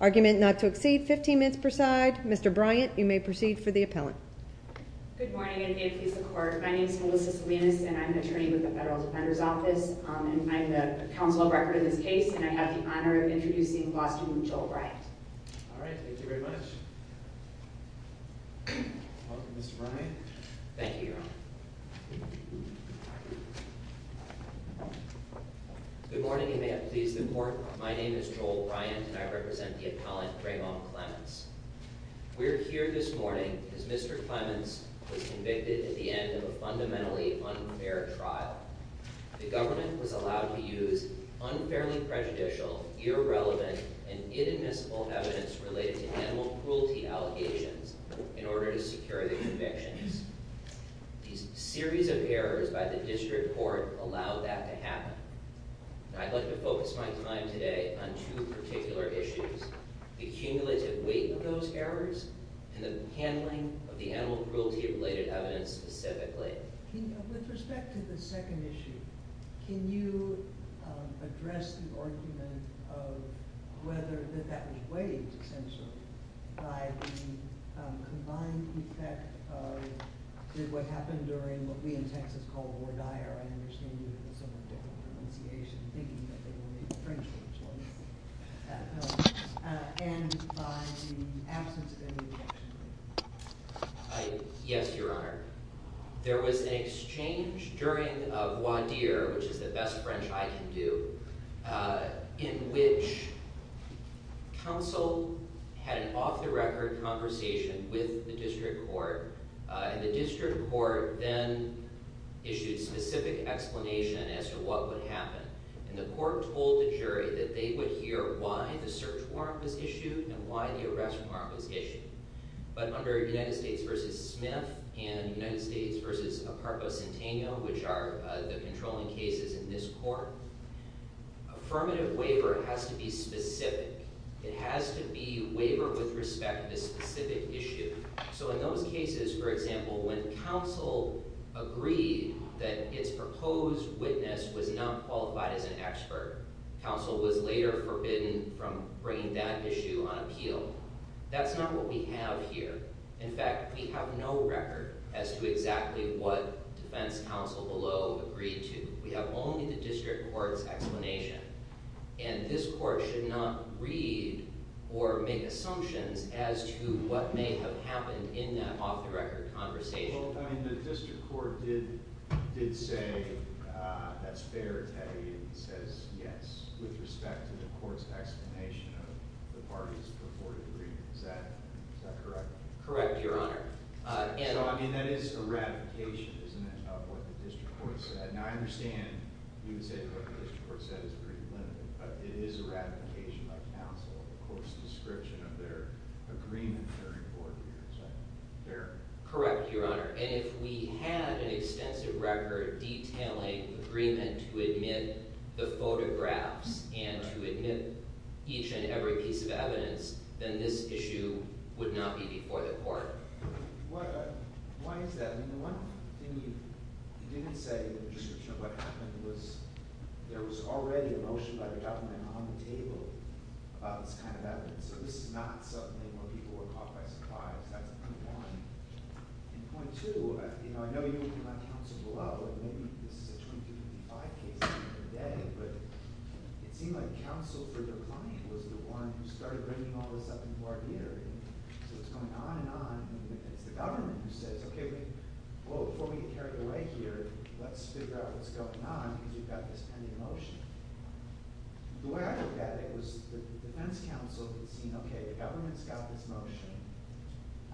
argument not to exceed 15 minutes per side. Mr Bryant, you may proceed for the appellant. Good morning and may it please the court. My name is Melissa Salinas and I'm an attorney with the Federal Defender's Office. I'm the counsel of record in this case and I have the honor of introducing law student Joel Bryant. Alright, thank you very much. Welcome, Mr. Bryant. Thank you. Thank you, Your Honor. Good morning and may it please the court. My name is Joel Bryant and I represent the appellant, Ramon Clements. We're here this morning because Mr. Clements was convicted at the end of a fundamentally unfair trial. The government was allowed to use unfairly prejudicial, irrelevant, and inadmissible evidence related to animal cruelty allegations in order to secure the convictions. A series of errors by the district court allowed that to happen. I'd like to focus my time today on two particular issues. The cumulative weight of those errors and the handling of the animal cruelty related evidence specifically. With respect to the second issue, can you address the argument of whether that was weighed by the combined effect of what happened during what we in Texas call war dire. I understand you have a somewhat different pronunciation. And by the absence of any objection. Yes, Your Honor. There was an exchange during a voir dire which is the best French I can do, in which counsel had an off-the-record conversation with the district court. And the district court then issued specific explanation as to what would happen. And the court told the jury that they would hear why the search warrant was issued and why the arrest warrant was issued. But under United States v. Smith and United States v. Aparco Centeno which are the controlling cases in this court, affirmative waiver has to be specific. It has to be waiver with respect to the specific issue. So in those cases, for example, when counsel agreed that its proposed witness was not qualified as an expert, counsel was later forbidden from bringing that issue on appeal. That's not what we have here. In fact, we have no record as to exactly what defense counsel below agreed to. We have only the district court's explanation. And this court should not read or make assumptions as to what may have happened in that off-the-record conversation. Well, I mean, the district court did say that's fair, Teddy. It says yes with respect to the court's explanation of the parties before the agreement. Is that correct? Correct, Your Honor. So, I mean, that is eradication isn't it, of what the district court said? Now, I understand you would say what the district court said is pretty limited, but it is eradication by counsel of the court's description of their agreement during court hearings, right? Correct, Your Honor. And if we had an extensive record detailing agreement to admit the photographs and to admit each and every piece of evidence, then this issue would not be before the court. Why is that? I mean, the one thing you didn't say in the district court what happened was there was already a motion by the government on the table about this kind of evidence. So this is not something where people were caught by surprise. That's point one. And point two, you know, I know you agree with my counsel below, and maybe this is a 23-55 case at the end of the day, but it seemed like counsel for your client was the one who started bringing all this up into our hearing, and it's the government who says, okay, well, before we get carried away here, let's figure out what's going on because you've got this pending motion. The way I looked at it was the defense counsel had seen, okay, the government's got this motion.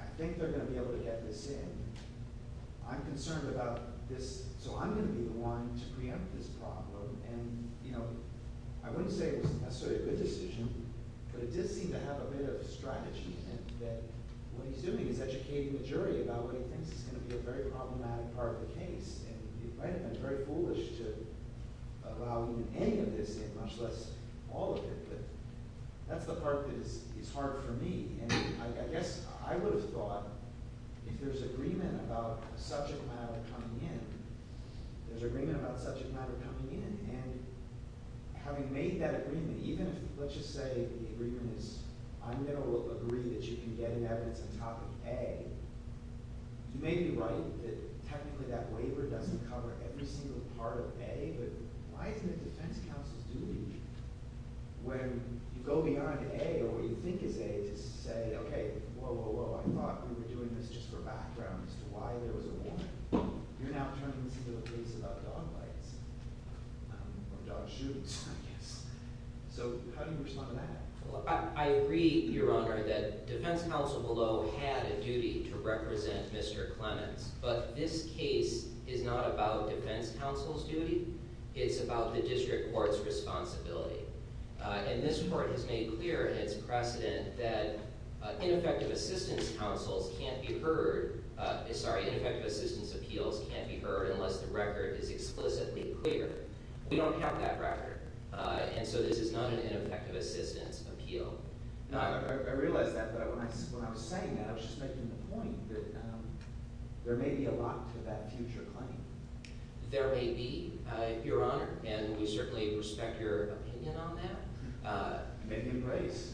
I think they're going to be able to get this in. I'm concerned about this, so I'm going to be the one to preempt this problem. And, you know, I wouldn't say it was necessarily a good decision, but it did seem to have a bit of a strategy in that what he's doing is educating the jury about what he thinks is going to be a very problematic part of the case, and he might have been very foolish to allow even any of this in, much less all of it, but that's the part that is hard for me, and I guess I would have thought if there's agreement about a subject matter coming in, there's agreement about a subject matter coming in, and having made that agreement, even if, let's just say the agreement is I'm going to agree that you can get an evidence on top of A, you may be right that technically that waiver doesn't cover every single part of A, but why isn't the defense counsel's duty when you go beyond A or what you think is A to say, okay, whoa, whoa, whoa, I thought we were doing this just for background as to why there was a warrant. You're now turning this into a case about dog bites, or dog shoots, I guess. So how do you respond to that? I agree, Your Honor, that defense counsel below had a duty to represent Mr. Clements, but this case is not about defense counsel's duty, it's about the district court's responsibility, and this court has made clear in its precedent that ineffective assistance counsels can't be heard, sorry, ineffective assistance appeals can't be heard unless the record is explicitly clear. We don't have that record, and so this is not an ineffective assistance appeal. I realize that, but when I was saying that I was just making the point that there may be a lot to that future claim. There may be, Your Honor, and we certainly respect your opinion on that. May be embraced.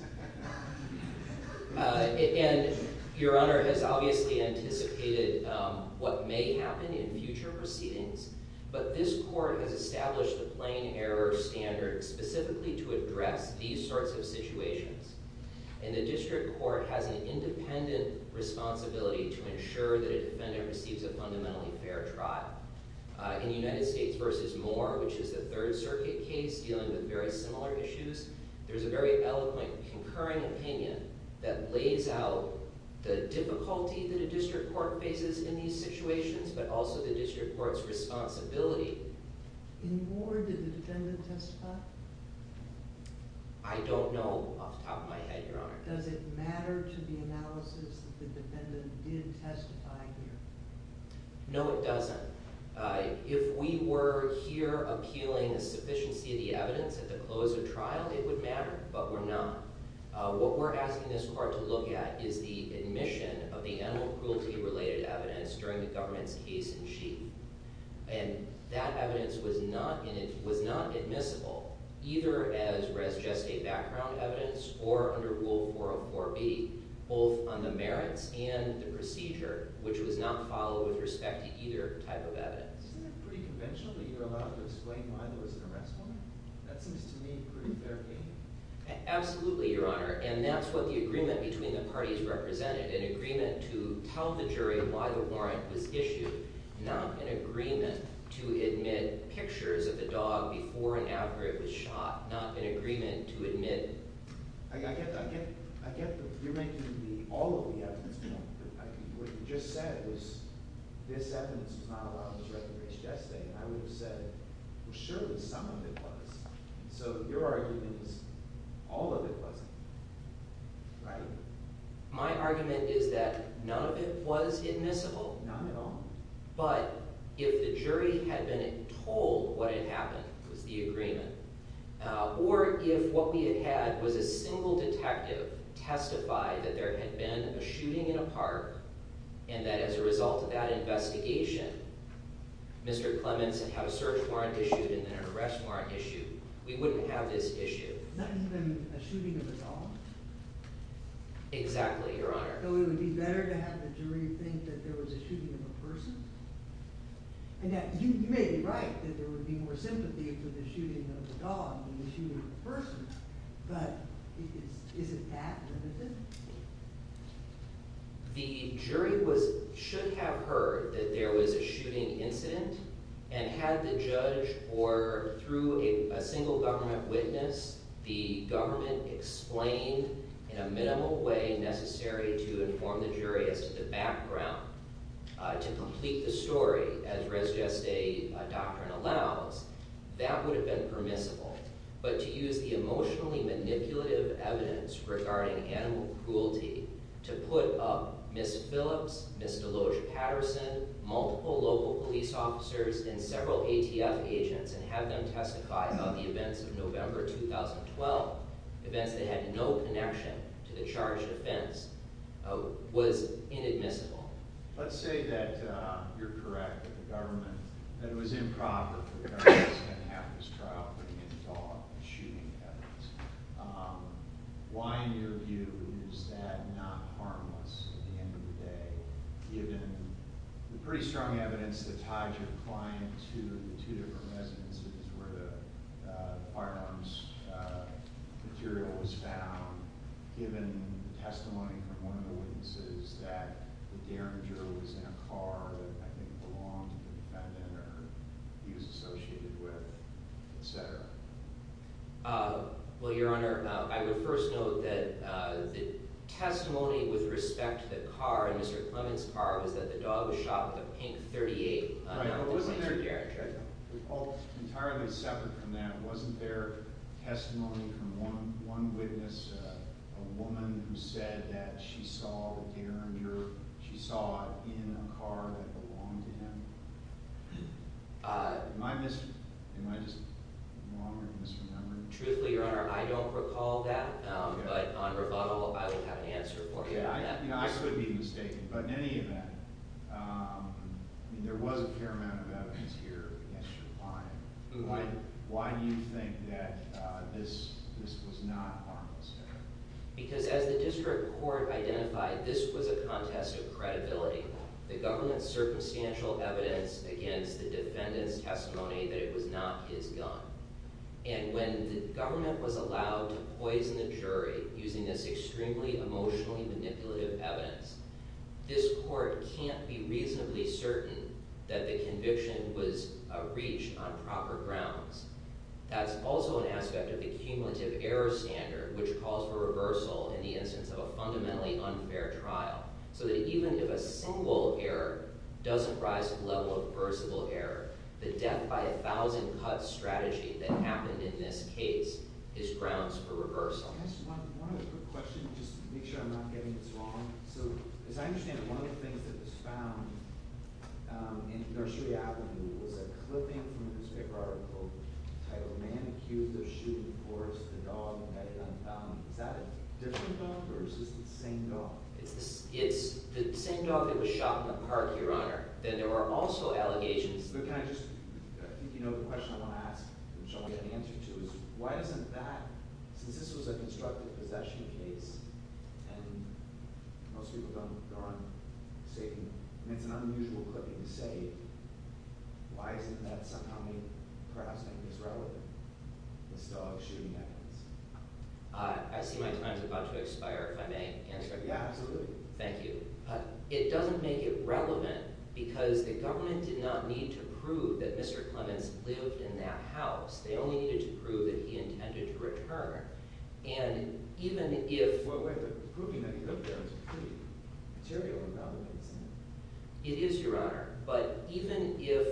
And Your Honor has obviously anticipated what may happen in future proceedings, but this court has established a plain error standard specifically to address these sorts of situations, and the district court has an independent responsibility to ensure that a defendant receives a fundamentally fair trial. In United States v. Moore, which is a Third Circuit case dealing with very similar issues, there's a very eloquent concurring opinion that lays out the difficulty that a district court faces in these situations, but also the district court's responsibility. In Moore, did the defendant testify? I don't know off the top of my head, Your Honor. Does it matter to the analysis that the defendant did testify here? No, it doesn't. If we were here appealing a sufficiency of the evidence at the close of trial, it would matter, but we're not. What we're asking this court to look at is the admission of the animal as a case in sheet, and that evidence was not admissible, either as just a background evidence or under Rule 404B, both on the merits and the procedure, which was not followed with respect to either type of evidence. Isn't that pretty conventional that you're allowed to explain why there was an arrest warrant? That seems to me a pretty fair game. Absolutely, Your Honor, and that's what the agreement between the parties represented, an agreement to tell the jury why the warrant was issued, not an agreement to admit pictures of the dog before and after it was shot, not an agreement to admit it. I get that. You're making all of the evidence. What you just said was this evidence was not allowed to be recognized yesterday, and I would have said surely some of it was. So your argument is all of it wasn't, right? My argument is that none of it was admissible. Not at all. But if the jury had been told what had happened, which was the agreement, or if what we had had was a single detective testify that there had been a shooting in a park, and that as a result of that investigation Mr. Clements had had a search warrant issued and then an arrest warrant issued, we wouldn't have this issue. Not even a shooting of a dog? Exactly, Your Honor. So it would be better to have the jury think that there was a shooting of a person? You may be right that there would be more sympathy for the shooting of a dog than the shooting of a person, but is it that limited? The jury should have heard that there was a shooting incident and had the judge or through a single government witness the government explain in a minimal way necessary to inform the jury as to the background to complete the story as res geste doctrine allows that would have been permissible. But to use the emotionally manipulative evidence regarding animal cruelty to put up Ms. Phillips, Ms. Deloge-Patterson, multiple local police officers, and several ATF agents and have them testify about the events of November 2012, events that had no connection to the charged offense, was inadmissible. Let's say that you're correct that the government that it was improper for the government to have this trial putting in a dog and shooting evidence. Why in your view is that not harmless at the end of the day given the pretty strong evidence that tied your client to the two different residences where the firearms material was found, given testimony from one of the witnesses that the derringer was in a car that I think belonged to the defendant or he was associated with, etc.? Well, Your Honor, I would first note that the testimony with respect to the car, Mr. Clements' car, was that the dog was shot with a pink .38 rifle. Entirely separate from that, wasn't there testimony from one witness a woman who said that she saw the derringer, she saw it in a car that belonged to him? Am I just wrong or am I misremembering? Truthfully, Your Honor, I don't recall that, but on rebuttal I would have an answer for you on that. I could be mistaken, but in any event, there was a fair amount of evidence here against your client. Why do you think that this was not harmless? Because as the district court identified, this was a contest of credibility. The government's circumstantial evidence against the defendant's testimony that it was not his gun. And when the government was allowed to poison the jury using this extremely emotionally manipulative evidence, this court can't be reasonably certain that the conviction was a reach on proper grounds. That's also an aspect of the cumulative error standard, which calls for reversal in the instance of a fundamentally unfair trial. So that even if a single error doesn't rise to the level of reversible error, the death by a thousand cuts strategy that happened in this case is grounds for reversal. Can I ask one other quick question, just to make sure I'm not getting this wrong. So, as I understand it, one of the things that was found in Nursery Avenue was a clipping from this paper article titled, Man Accused of Shooting a Horse to the Dog and Got It Unfound. Is that a different dog, or is this the same dog? It's the same dog that was shot in the park, Your Honor. There were also allegations. But can I just, you know, the question I want to ask which I want to get an answer to is, why doesn't that, since this was a self-destructive possession case, and most people don't go on, and it's an unusual clipping to say, why doesn't that somehow make, perhaps, make this relevant? This dog shooting evidence. I see my time's about to expire, if I may answer. Yeah, absolutely. Thank you. It doesn't make it relevant because the government did not need to prove that Mr. Clements lived in that house. They only needed to prove that he lived there. Well, wait, but proving that he lived there is pretty material and relevant, isn't it? It is, Your Honor. But even if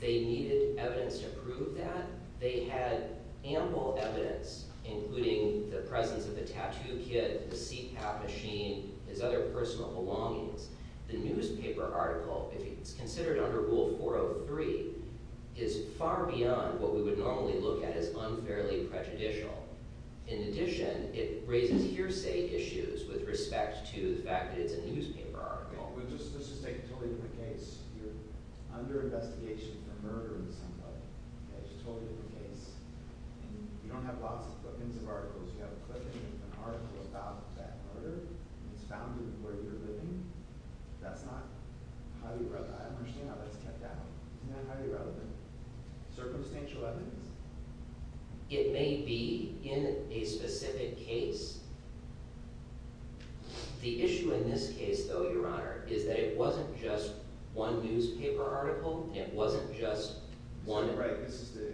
they needed evidence to prove that, they had ample evidence, including the presence of the tattoo kit, the CPAP machine, his other personal belongings. The newspaper article, if it's considered under Rule 403, is far beyond what we would normally look at as unfairly prejudicial. In addition, it raises hearsay issues with respect to the fact that it's a newspaper article. Well, let's just say totally different case. You're under investigation for murdering somebody. That's totally different case. You don't have lots of clippings of articles. You have a clipping of an article about that murder. It's found in where you're living. That's not highly relevant. I don't understand how that's kept out. Isn't that highly relevant? Circumstantial evidence? It may be in a specific case. The issue in this case, though, Your Honor, is that it wasn't just one newspaper article. It wasn't just one... Thank you very much.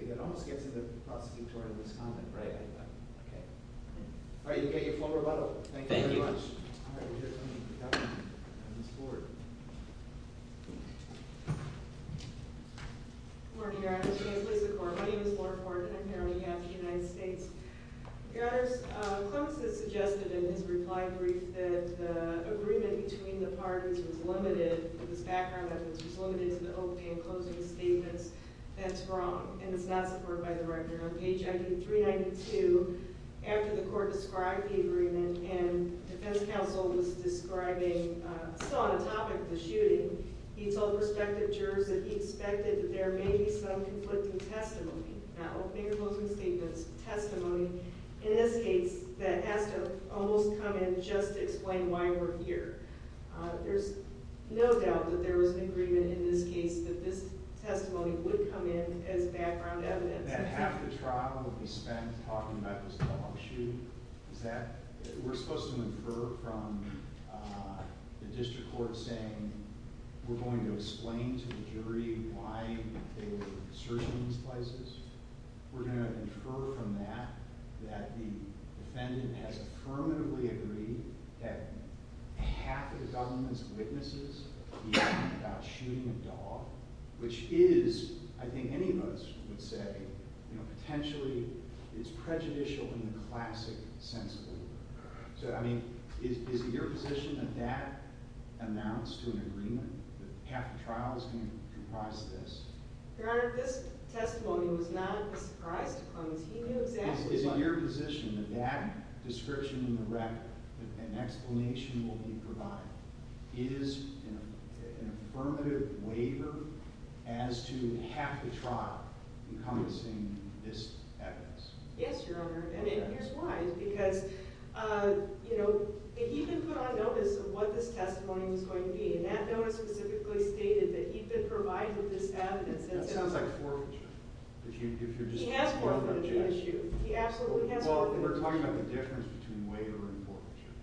All right, we have a comment from the Captain and Ms. Ford. Good morning, Your Honor. My name is Laura Ford, and I'm here on behalf of the United States. Your Honor, Clements has suggested in his reply brief that the agreement between the parties was limited, his background evidence was limited to the opening and closing statements. That's wrong, and it's not supported by the record. On page 392, after the Court described the agreement, and Defense Counsel was describing on the topic of the shooting, he told prospective jurors that he expected that there may be some conflicting testimony, not opening or closing statements, testimony, in this case, that has to almost come in just to explain why we're here. There's no doubt that there was an agreement in this case that this testimony would come in as background evidence. That half the trial that we spent talking about was a dog shooting. We're supposed to infer from the District Court saying we're going to explain to the jury why they were searching these places. We're going to infer from that that the defendant has affirmatively agreed that half of the government's witnesses believe about shooting a dog, which is, I think any of us would say, potentially, it's prejudicial in the classic sense of the word. So, I mean, is it your position that that amounts to an agreement, that half the trial is going to comprise this? Your Honor, this testimony was not a surprise to Cronin. He knew exactly why. Is it your position that that description in the record and explanation will be provided? Is an affirmative waiver as to half the testimony be this evidence? Yes, Your Honor, and here's why. Because, you know, he even put on notice of what this testimony was going to be, and that notice specifically stated that he'd been provided this evidence. That sounds like forfeiture. He has forfeited the issue. He absolutely has forfeited the issue. Well, we're talking about the difference between waiver and forfeiture,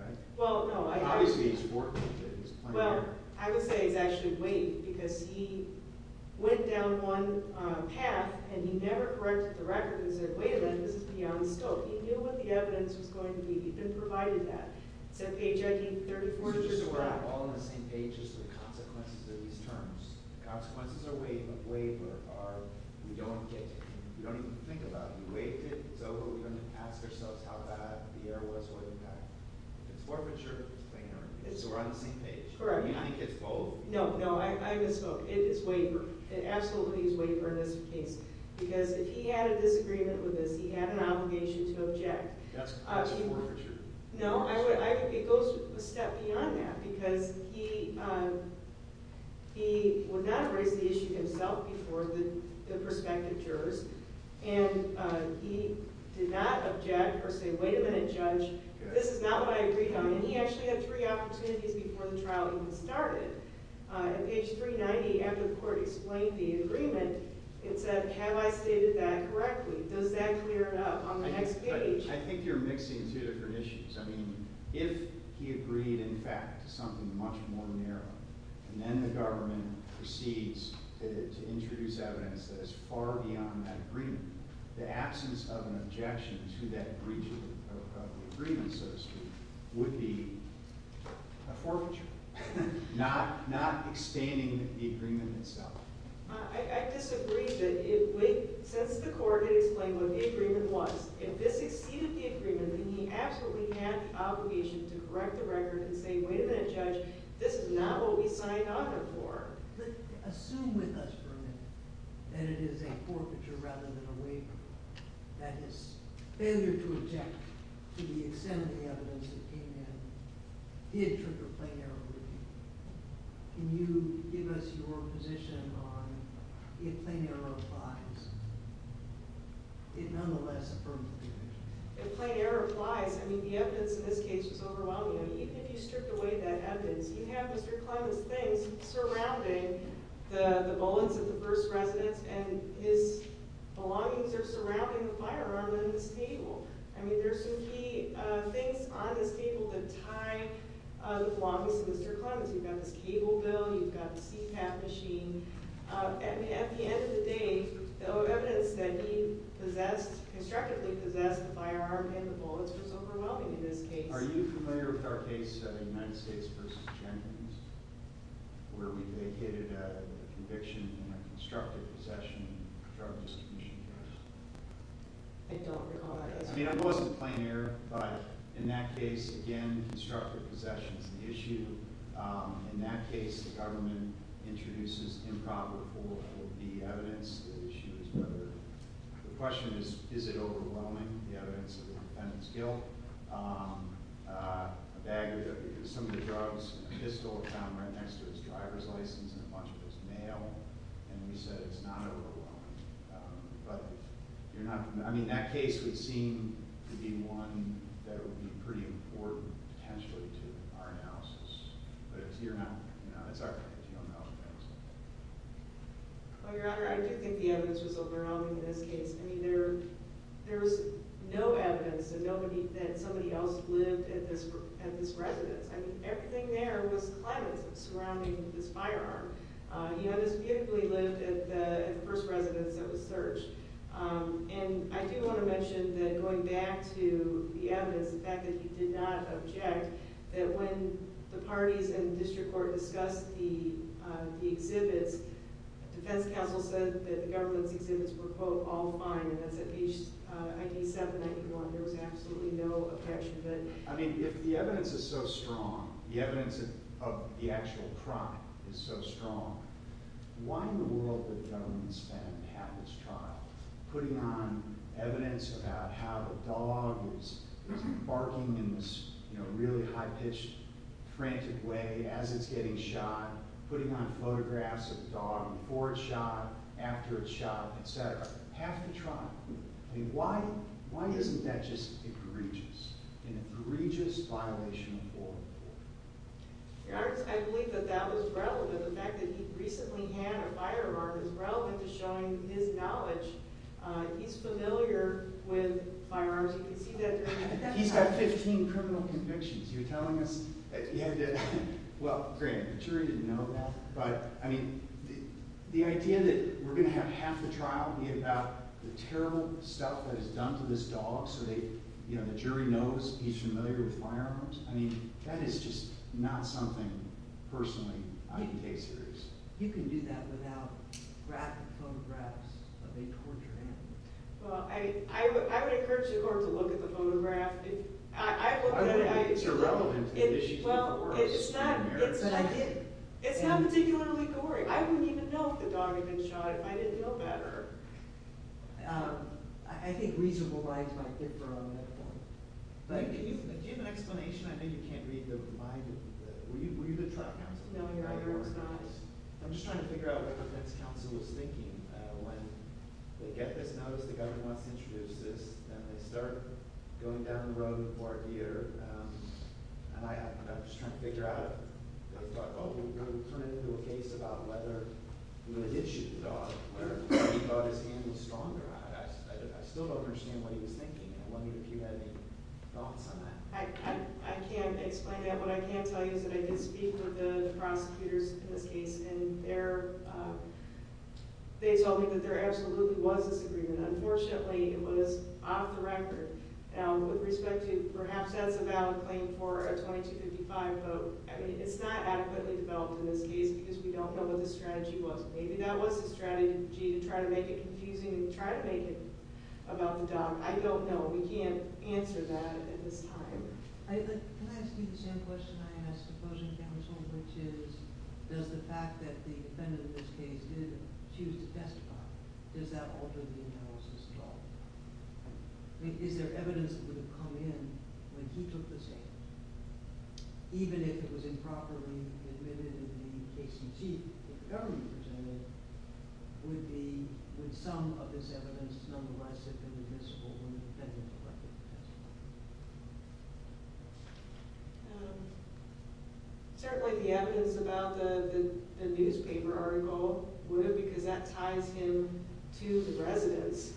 right? Well, no. Obviously, he's forfeited it. Well, I would say he's actually waived because he went down one path, and he never corrected the record and said, wait a minute, this is beyond scope. He knew what the evidence was going to be. He'd been provided that. It's that page ID, 34 inches of gravel. So we're all on the same page as to the consequences of these terms. The consequences are waived, but waiver are we don't get it. We don't even think about it. We waived it. It's over. We don't even ask ourselves how bad the error was or the impact. If it's forfeiture, it's cleaner. So we're on the same page. Correct. Do you think it's both? No, no. I don't think he's waived or in this case. Because if he had a disagreement with us, he had an obligation to object. That's not a forfeiture. No. It goes a step beyond that because he would not have raised the issue himself before the prospective jurors, and he did not object or say, wait a minute, Judge, this is not what I agreed on. And he actually had three opportunities before the trial even started. At page 390, after the court explained the agreement, it said, have I stated that correctly? Does that clear it up on the next page? I think you're mixing two different issues. I mean, if he agreed, in fact, to something much more narrow, and then the government proceeds to introduce evidence that is far beyond that agreement, the absence of an objection to that breach of the agreement, so to speak, would be a forfeiture. Not extending the agreement itself. I disagree. Since the court had explained what the agreement was, if this exceeded the agreement, then he absolutely had the obligation to correct the record and say, wait a minute, Judge, this is not what we signed on it for. Assume with us for a minute that it is a forfeiture rather than a waiver. That his failure to object to the extent of the evidence that came down did trigger plain error review. Can you give us your position on if plain error applies? It nonetheless affirmed the agreement. If plain error applies, I mean, the evidence in this case was overwhelming. I mean, even if you stripped away that evidence, you have Mr. Clement's things surrounding the bullets at the first residence, and his belongings are surrounding the firearm in the stable. I mean, there's some key things on this table that tie the belongings to Mr. Clement's. You've got this cable bill, you've got the CPAP machine. At the end of the day, the evidence that he constructively possessed the firearm and the bullets was overwhelming in this case. Are you familiar with our case of the United States v. Jenkins, where we vacated a conviction in a constructive possession of a drug misdemeanor charge? I don't recall that. I mean, it wasn't plain error, but in that case, again, constructive possession is the issue. In that case, the government introduces improper for the evidence. The issue is whether the question is, is it overwhelming, the evidence of the defendant's guilt. Some of the drugs in the pistol were found right next to his driver's license and a bunch of his mail, and we said it's not overwhelming. I mean, that case would seem to be one that would be pretty important, potentially, to our analysis, but it's our case. Well, Your Honor, I do think the evidence was overwhelming in this case. I mean, there was no evidence that somebody else lived at this residence. I mean, everything there was clemency surrounding this firearm. You know, this evidence that was searched. And I do want to mention that going back to the evidence, the fact that he did not object, that when the parties and district court discussed the exhibits, defense counsel said that the government's exhibits were, quote, all fine, and that's at page 9791. There was absolutely no objection to that. I mean, if the evidence is so strong, the evidence of the actual crime is so strong, why in the world would the government spend half its trial putting on evidence about how the dog was barking in this, you know, really high-pitched, frantic way as it's getting shot, putting on photographs of the dog before it's shot, after it's shot, et cetera? Half the trial. I mean, why isn't that just egregious? An egregious violation of foreign law? Your Honor, I believe that that was relevant. But the fact that he recently had a firearm is relevant to showing his knowledge. He's familiar with firearms. You can see that there. He's got 15 criminal convictions. You're telling us that he had to... Well, granted, the jury didn't know that. But, I mean, the idea that we're going to have half the trial be about the terrible stuff that is done to this dog so that, you know, the jury knows he's familiar with firearms, I mean, that is just not something personally I can take seriously. You can do that without graphic photographs of a tortured animal. Well, I would encourage the Court to look at the photograph. I don't think it's irrelevant to the issues in the courts. Well, it's not particularly gory. I wouldn't even know if the dog had been shot if I didn't know better. I think reasonable rights might differ on that point. Do you have an explanation? I know you can't read the mind of the... Were you the trial counsel? No, I was not. I'm just trying to figure out what the defense counsel was thinking when they get this notice, the government wants to introduce this, and they start going down the road for a year, and I'm just trying to figure out if they thought, oh, we're going to turn it into a case about whether we would issue the dog, whether he thought his hand was stronger. I still don't understand what he was thinking, and I'm wondering if you had any thoughts on that. I can't explain that. What I can tell you is that I did speak with the prosecutors in this case, and they told me that there absolutely was this agreement. Unfortunately, it was off the record. Now, with respect to perhaps that's a valid claim for a 2255 vote, it's not adequately developed in this case because we don't know what the strategy was. Maybe that was the strategy to try to make it confusing and try to make it about the dog. I don't know. We can't answer that at this time. Can I ask you the same question I asked the opposing counsel, which is does the fact that the defendant in this case did choose to testify, does that alter the analysis at all? Is there evidence that would have come in when he took the stand, even if it was improperly admitted in the case in chief that the government presented, would some of this evidence nonetheless have been admissible when the defendant collected the testimony? Certainly the evidence about the newspaper article would have because that ties him to the residence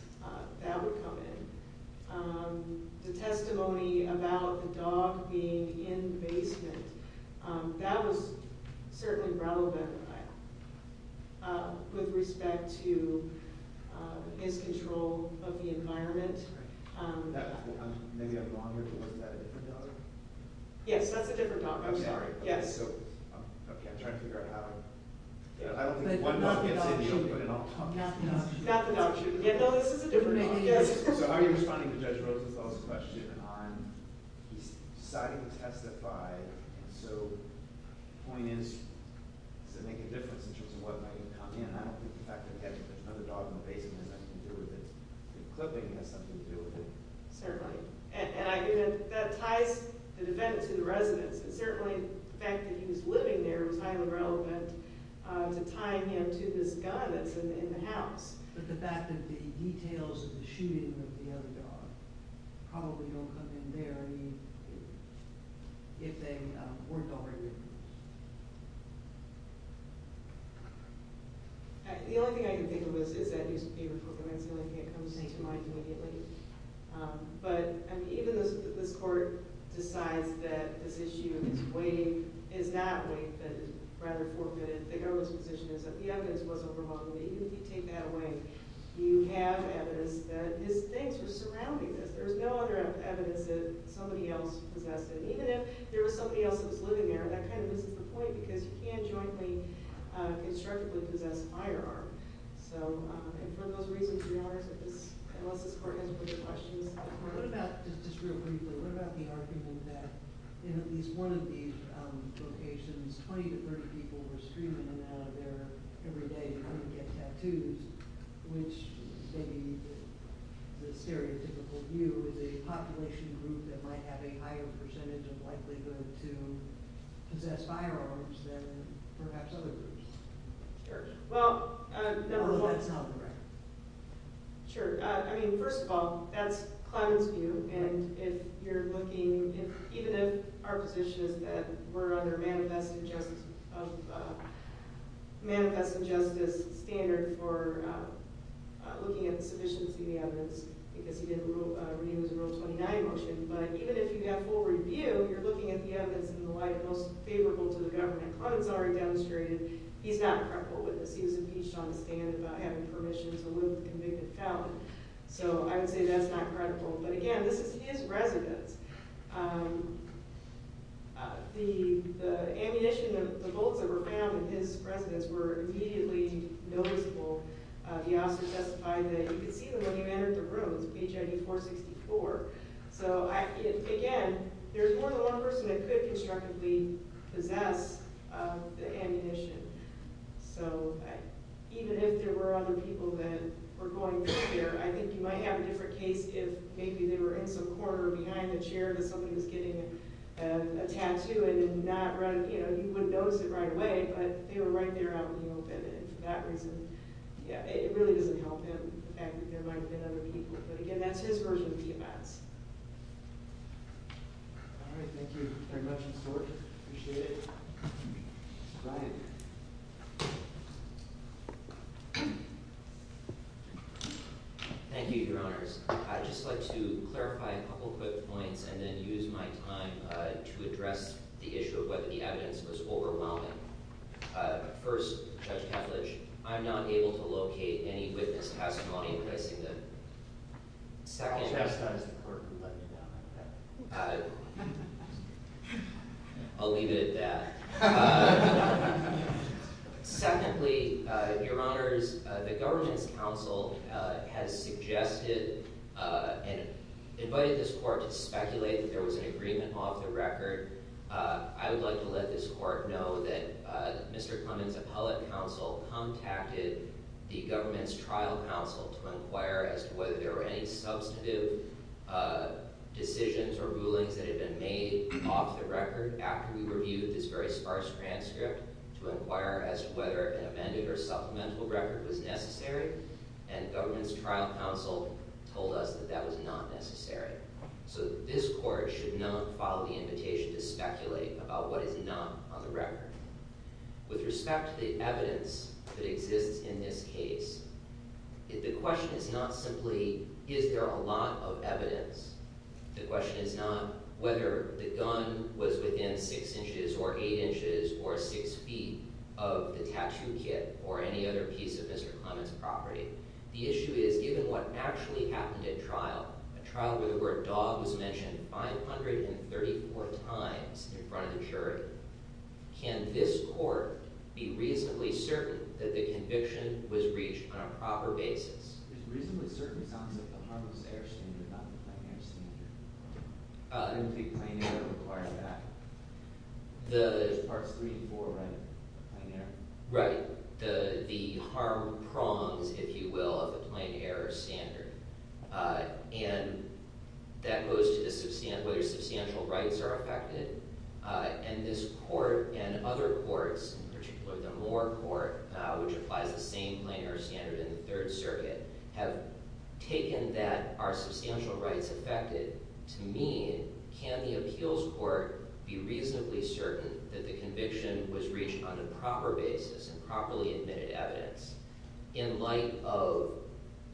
that would come in. The testimony about the dog being in the basement, that was certainly relevant with respect to his control of the environment. Maybe I'm wrong here, but wasn't that a different dog? Yes, that's a different dog. I'm sorry. I don't think one dog gets in, but in all tongues. So how are you responding to Judge Rosenfeld's question on deciding to testify, and so the point is, does it make a difference in terms of what might have come in? I don't think the fact that there's another dog in the basement has anything to do with it. The clipping has something to do with it. Certainly. That ties the defendant to the residence, and certainly the fact that he was living there was highly relevant to tying him to this gun that's in the house. But the fact that the details of the shooting of the other dog probably don't come in there if they weren't already there. The only thing I can think of is that newspaper for women, so it comes to mind immediately. But even this court decides that this issue is not waived, but rather forfeited, the government's position is that the evidence was overhauled. But even if you take that away, you have evidence that his things were surrounding this. There was no other evidence that somebody else possessed it. And even if there was somebody else that was living there, that kind of misses the point, because you can't jointly constructively possess higher art. And for those reasons, Your Honor, unless this court has further questions. What about, just real briefly, what about the argument that in at least one of these locations, 20 to 30 people were screaming in and out of there every day trying to get tattoos, which the stereotypical view is a population group that might have a higher percentage of likelihood to possess firearms than perhaps other groups. Well, number one. First of all, that's Clemens' view, and if you're looking even if our position is that we're under manifesting justice standard for looking at the sufficiency of the evidence, because he did a Rule 29 motion, but even if you have full review, you're looking at the evidence in the light most favorable to the government. Clemens already demonstrated he's not a credible witness. He was impeached on the stand about having permission to live with the convicted felon. So I would say that's not credible. But again, this is his residence. The ammunition, the bolts that were found in his residence were immediately noticeable. The officer testified that you could see them when he entered the room. It's HID 464. So again, there's more than one person that could constructively possess the ammunition. So even if there were other people that were going through there, I think you might have a different case if maybe they were in some corner behind a chair and somebody was getting a tattoo, and you wouldn't notice it right away, but they were right there out in the open, and for that reason it really doesn't help him, the fact that there might have been other people. But again, that's his version of the events. All right. Thank you very much. I appreciate it. Brian. Thank you, Your Honors. I'd just like to clarify a couple quick points and then use my time to address the issue of whether the evidence was overwhelming. First, Judge Kavlich, I'm not able to locate any witness testimony. I'll leave it at that. Secondly, Your Honors, the Governance Council has suggested and invited this Court to speculate that there was an agreement off the record. I would like to let this Court know that Mr. Clement's appellate counsel contacted the Governance Trial Council to inquire as to whether there were any substantive decisions or rulings that had been made off the record after we reviewed this very sparse transcript to inquire as to whether an amended or supplemental record was necessary, and the Governance Trial Council told us that that was not necessary. So this is my invitation to speculate about what is not on the record. With respect to the evidence that exists in this case, the question is not simply, is there a lot of evidence? The question is not whether the gun was within 6 inches or 8 inches or 6 feet of the tattoo kit or any other piece of Mr. Clement's property. The issue is, given what actually happened at trial, a trial where the word was reiterated 34 times in front of the jury, can this Court be reasonably certain that the conviction was reached on a proper basis? It reasonably certainly sounds like the harmless error standard, not the plain error standard. I don't think plain error requires that. There's parts 3 and 4, right, of plain error? Right. The harm prongs, if you will, of the plain error standard. And that goes to whether substantial rights are affected. And this Court and other courts, in particular the Moore Court, which applies the same plain error standard in the Third Circuit, have taken that are substantial rights affected? To me, can the appeals court be reasonably certain that the conviction was reached on a proper basis and properly admitted evidence? In light of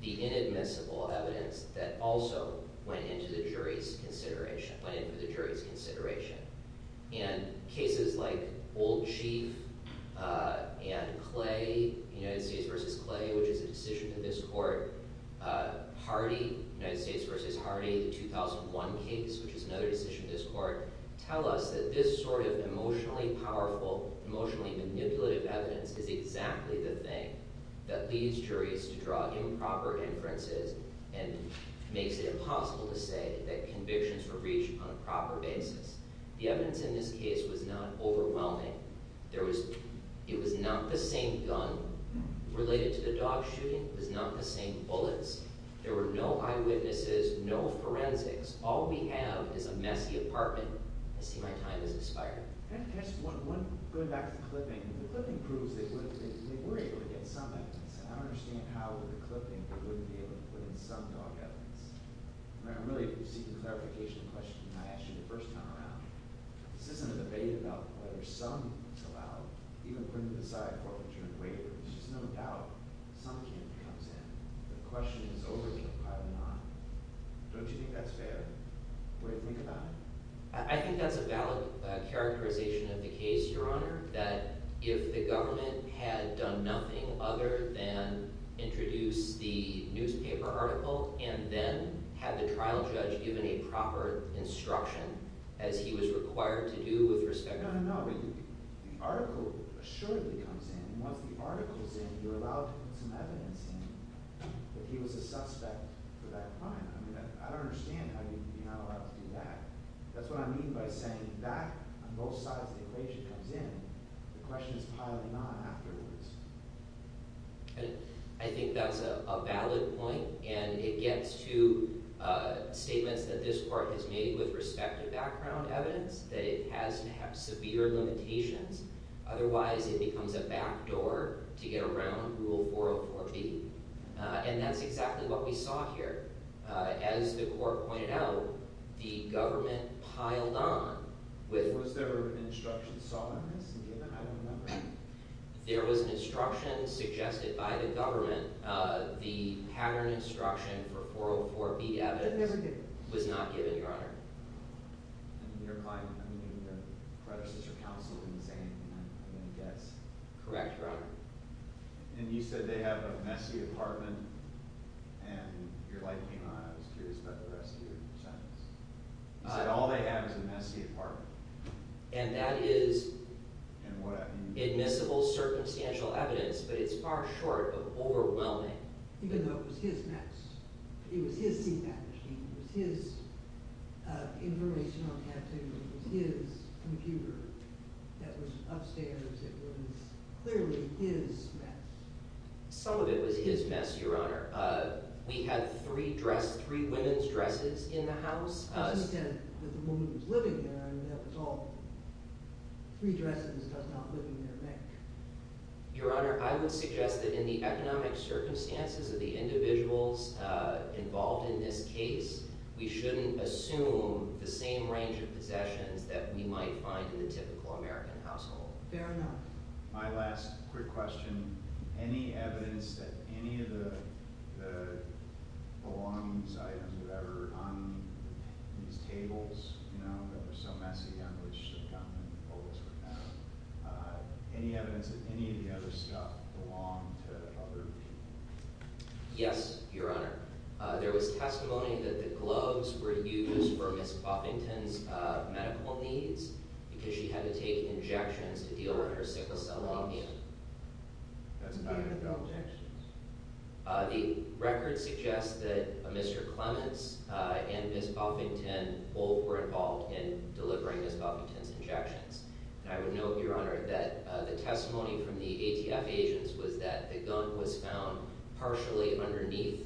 the inadmissible evidence that also went into the jury's consideration. And cases like Old Chief and Clay, United States v. Clay, which is a decision in this Court, Hardy, United States v. Hardy, the 2001 case, which is another decision in this Court, tell us that this sort of emotionally powerful, emotionally manipulative evidence is exactly the thing that leads juries to draw improper inferences and makes it impossible to say that convictions were reached on a proper basis. The evidence in this case was not overwhelming. There was – it was not the same gun related to the dog shooting. It was not the same bullets. There were no eyewitnesses, no forensics. All we have is a messy apartment. I see my time has expired. Going back to the clipping, the clipping proves that they were able to get some evidence. I don't understand how the clipping wouldn't be able to put in some dog evidence. I'm really seeking clarification on the question I asked you the first time around. This isn't a debate about whether some is allowed, even putting aside forfeiture and waiver. There's just no doubt some can comes in. The question is over here, probably not. Don't you think that's fair? What do you think about it? I think that's a valid characterization of the case, Your Honor, that if the government had done nothing other than introduce the newspaper article and then had the trial judge given a proper instruction as he was required to do with respect to – No, no, no. The article assuredly comes in. Once the article is in, you're allowed to put some evidence in that he was a suspect for that crime. I mean, I don't understand how you would be not allowed to do that. That's what I mean by saying that on both sides of the equation comes in. The question is probably not afterwards. I think that's a valid point and it gets to statements that this Court has made with respect to background evidence, that it has to have severe limitations. Otherwise, it becomes a backdoor to get around Rule 404B. And that's exactly what we saw here. As the Court pointed out, the government piled on with – Was there an instruction saw in this? I don't remember. There was an instruction suggested by the government the pattern instruction for 404B evidence was not given, Your Honor. I mean, your predecessor counsel didn't say anything. I'm going to guess. Correct, Your Honor. And you said they have a messy apartment and your light came on. I was curious about the rest of your sentence. You said all they have is a messy apartment. And that is admissible circumstantial evidence, but it's far short of overwhelming. Even though it was his mess. It was his seatback machine. It was his information on caffeine. It was his computer that was upstairs. It was clearly his mess. Some of it was his mess, Your Honor. We had three women's dresses in the house. The woman who was living there, I mean, that was all three dresses. Your Honor, I would suggest that in the economic circumstances of the individuals involved in this case, we shouldn't assume the same range of possessions that we might find in the typical American household. Fair enough. My last quick question. Any evidence that any of the belongings items were ever on these tables, you know, that were so messy, on which the gumballs were found, any evidence that any of the other stuff belonged to other people? Yes, Your Honor. There was testimony that the gloves were used for Ms. Poppington's medical needs because she had to take injections to deal with her sickle cell lumbium. That's not in the objections. The record suggests that Mr. Clements and Ms. Poppington both were involved in delivering Ms. Poppington's injections. And I would note, Your Honor, that the testimony from the ATF agents was that the gun was found partially underneath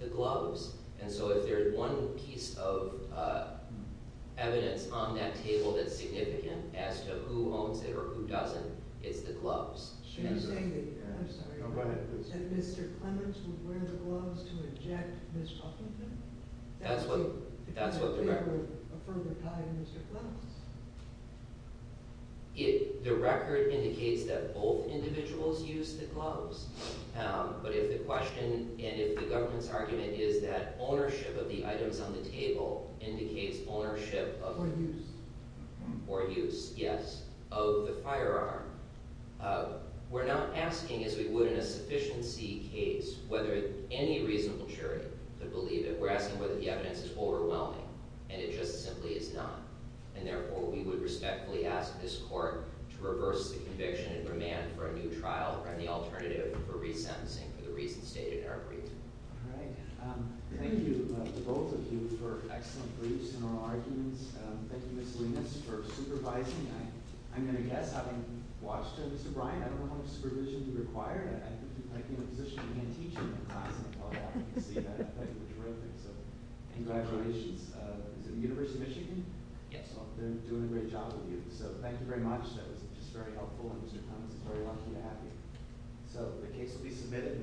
the gloves. And so if there's one piece of evidence on that table that's significant as to who owns it or who doesn't, it's the gloves. Should we say that Mr. Clements would wear the gloves to inject Ms. Poppington? That's what the record... ...if they were a further tie to Mr. Clements? The record indicates that both individuals used the gloves. But if the question, and if the government's argument is that ownership of the firearm, we're not asking as we would in a sufficiency case whether any reasonable jury would believe it. We're asking whether the evidence is overwhelming, and it just simply is not. And therefore, we would respectfully ask this Court to reverse the conviction and remand for a new trial or any alternative for resentencing for the reasons stated in our briefs. All right. Thank you to both of you for excellent briefs and oral arguments. Thank you, Ms. Linus, for supervising. I'm going to guess, having watched Mr. Bryant, I don't know how much supervision he required. I think he might be in a position where he can't teach in the class. Congratulations. Is it the University of Michigan? Yes. They're doing a great job with you. So thank you very much. That was just very helpful, and Mr. Clements, it's very lucky to have you. So the case will be submitted.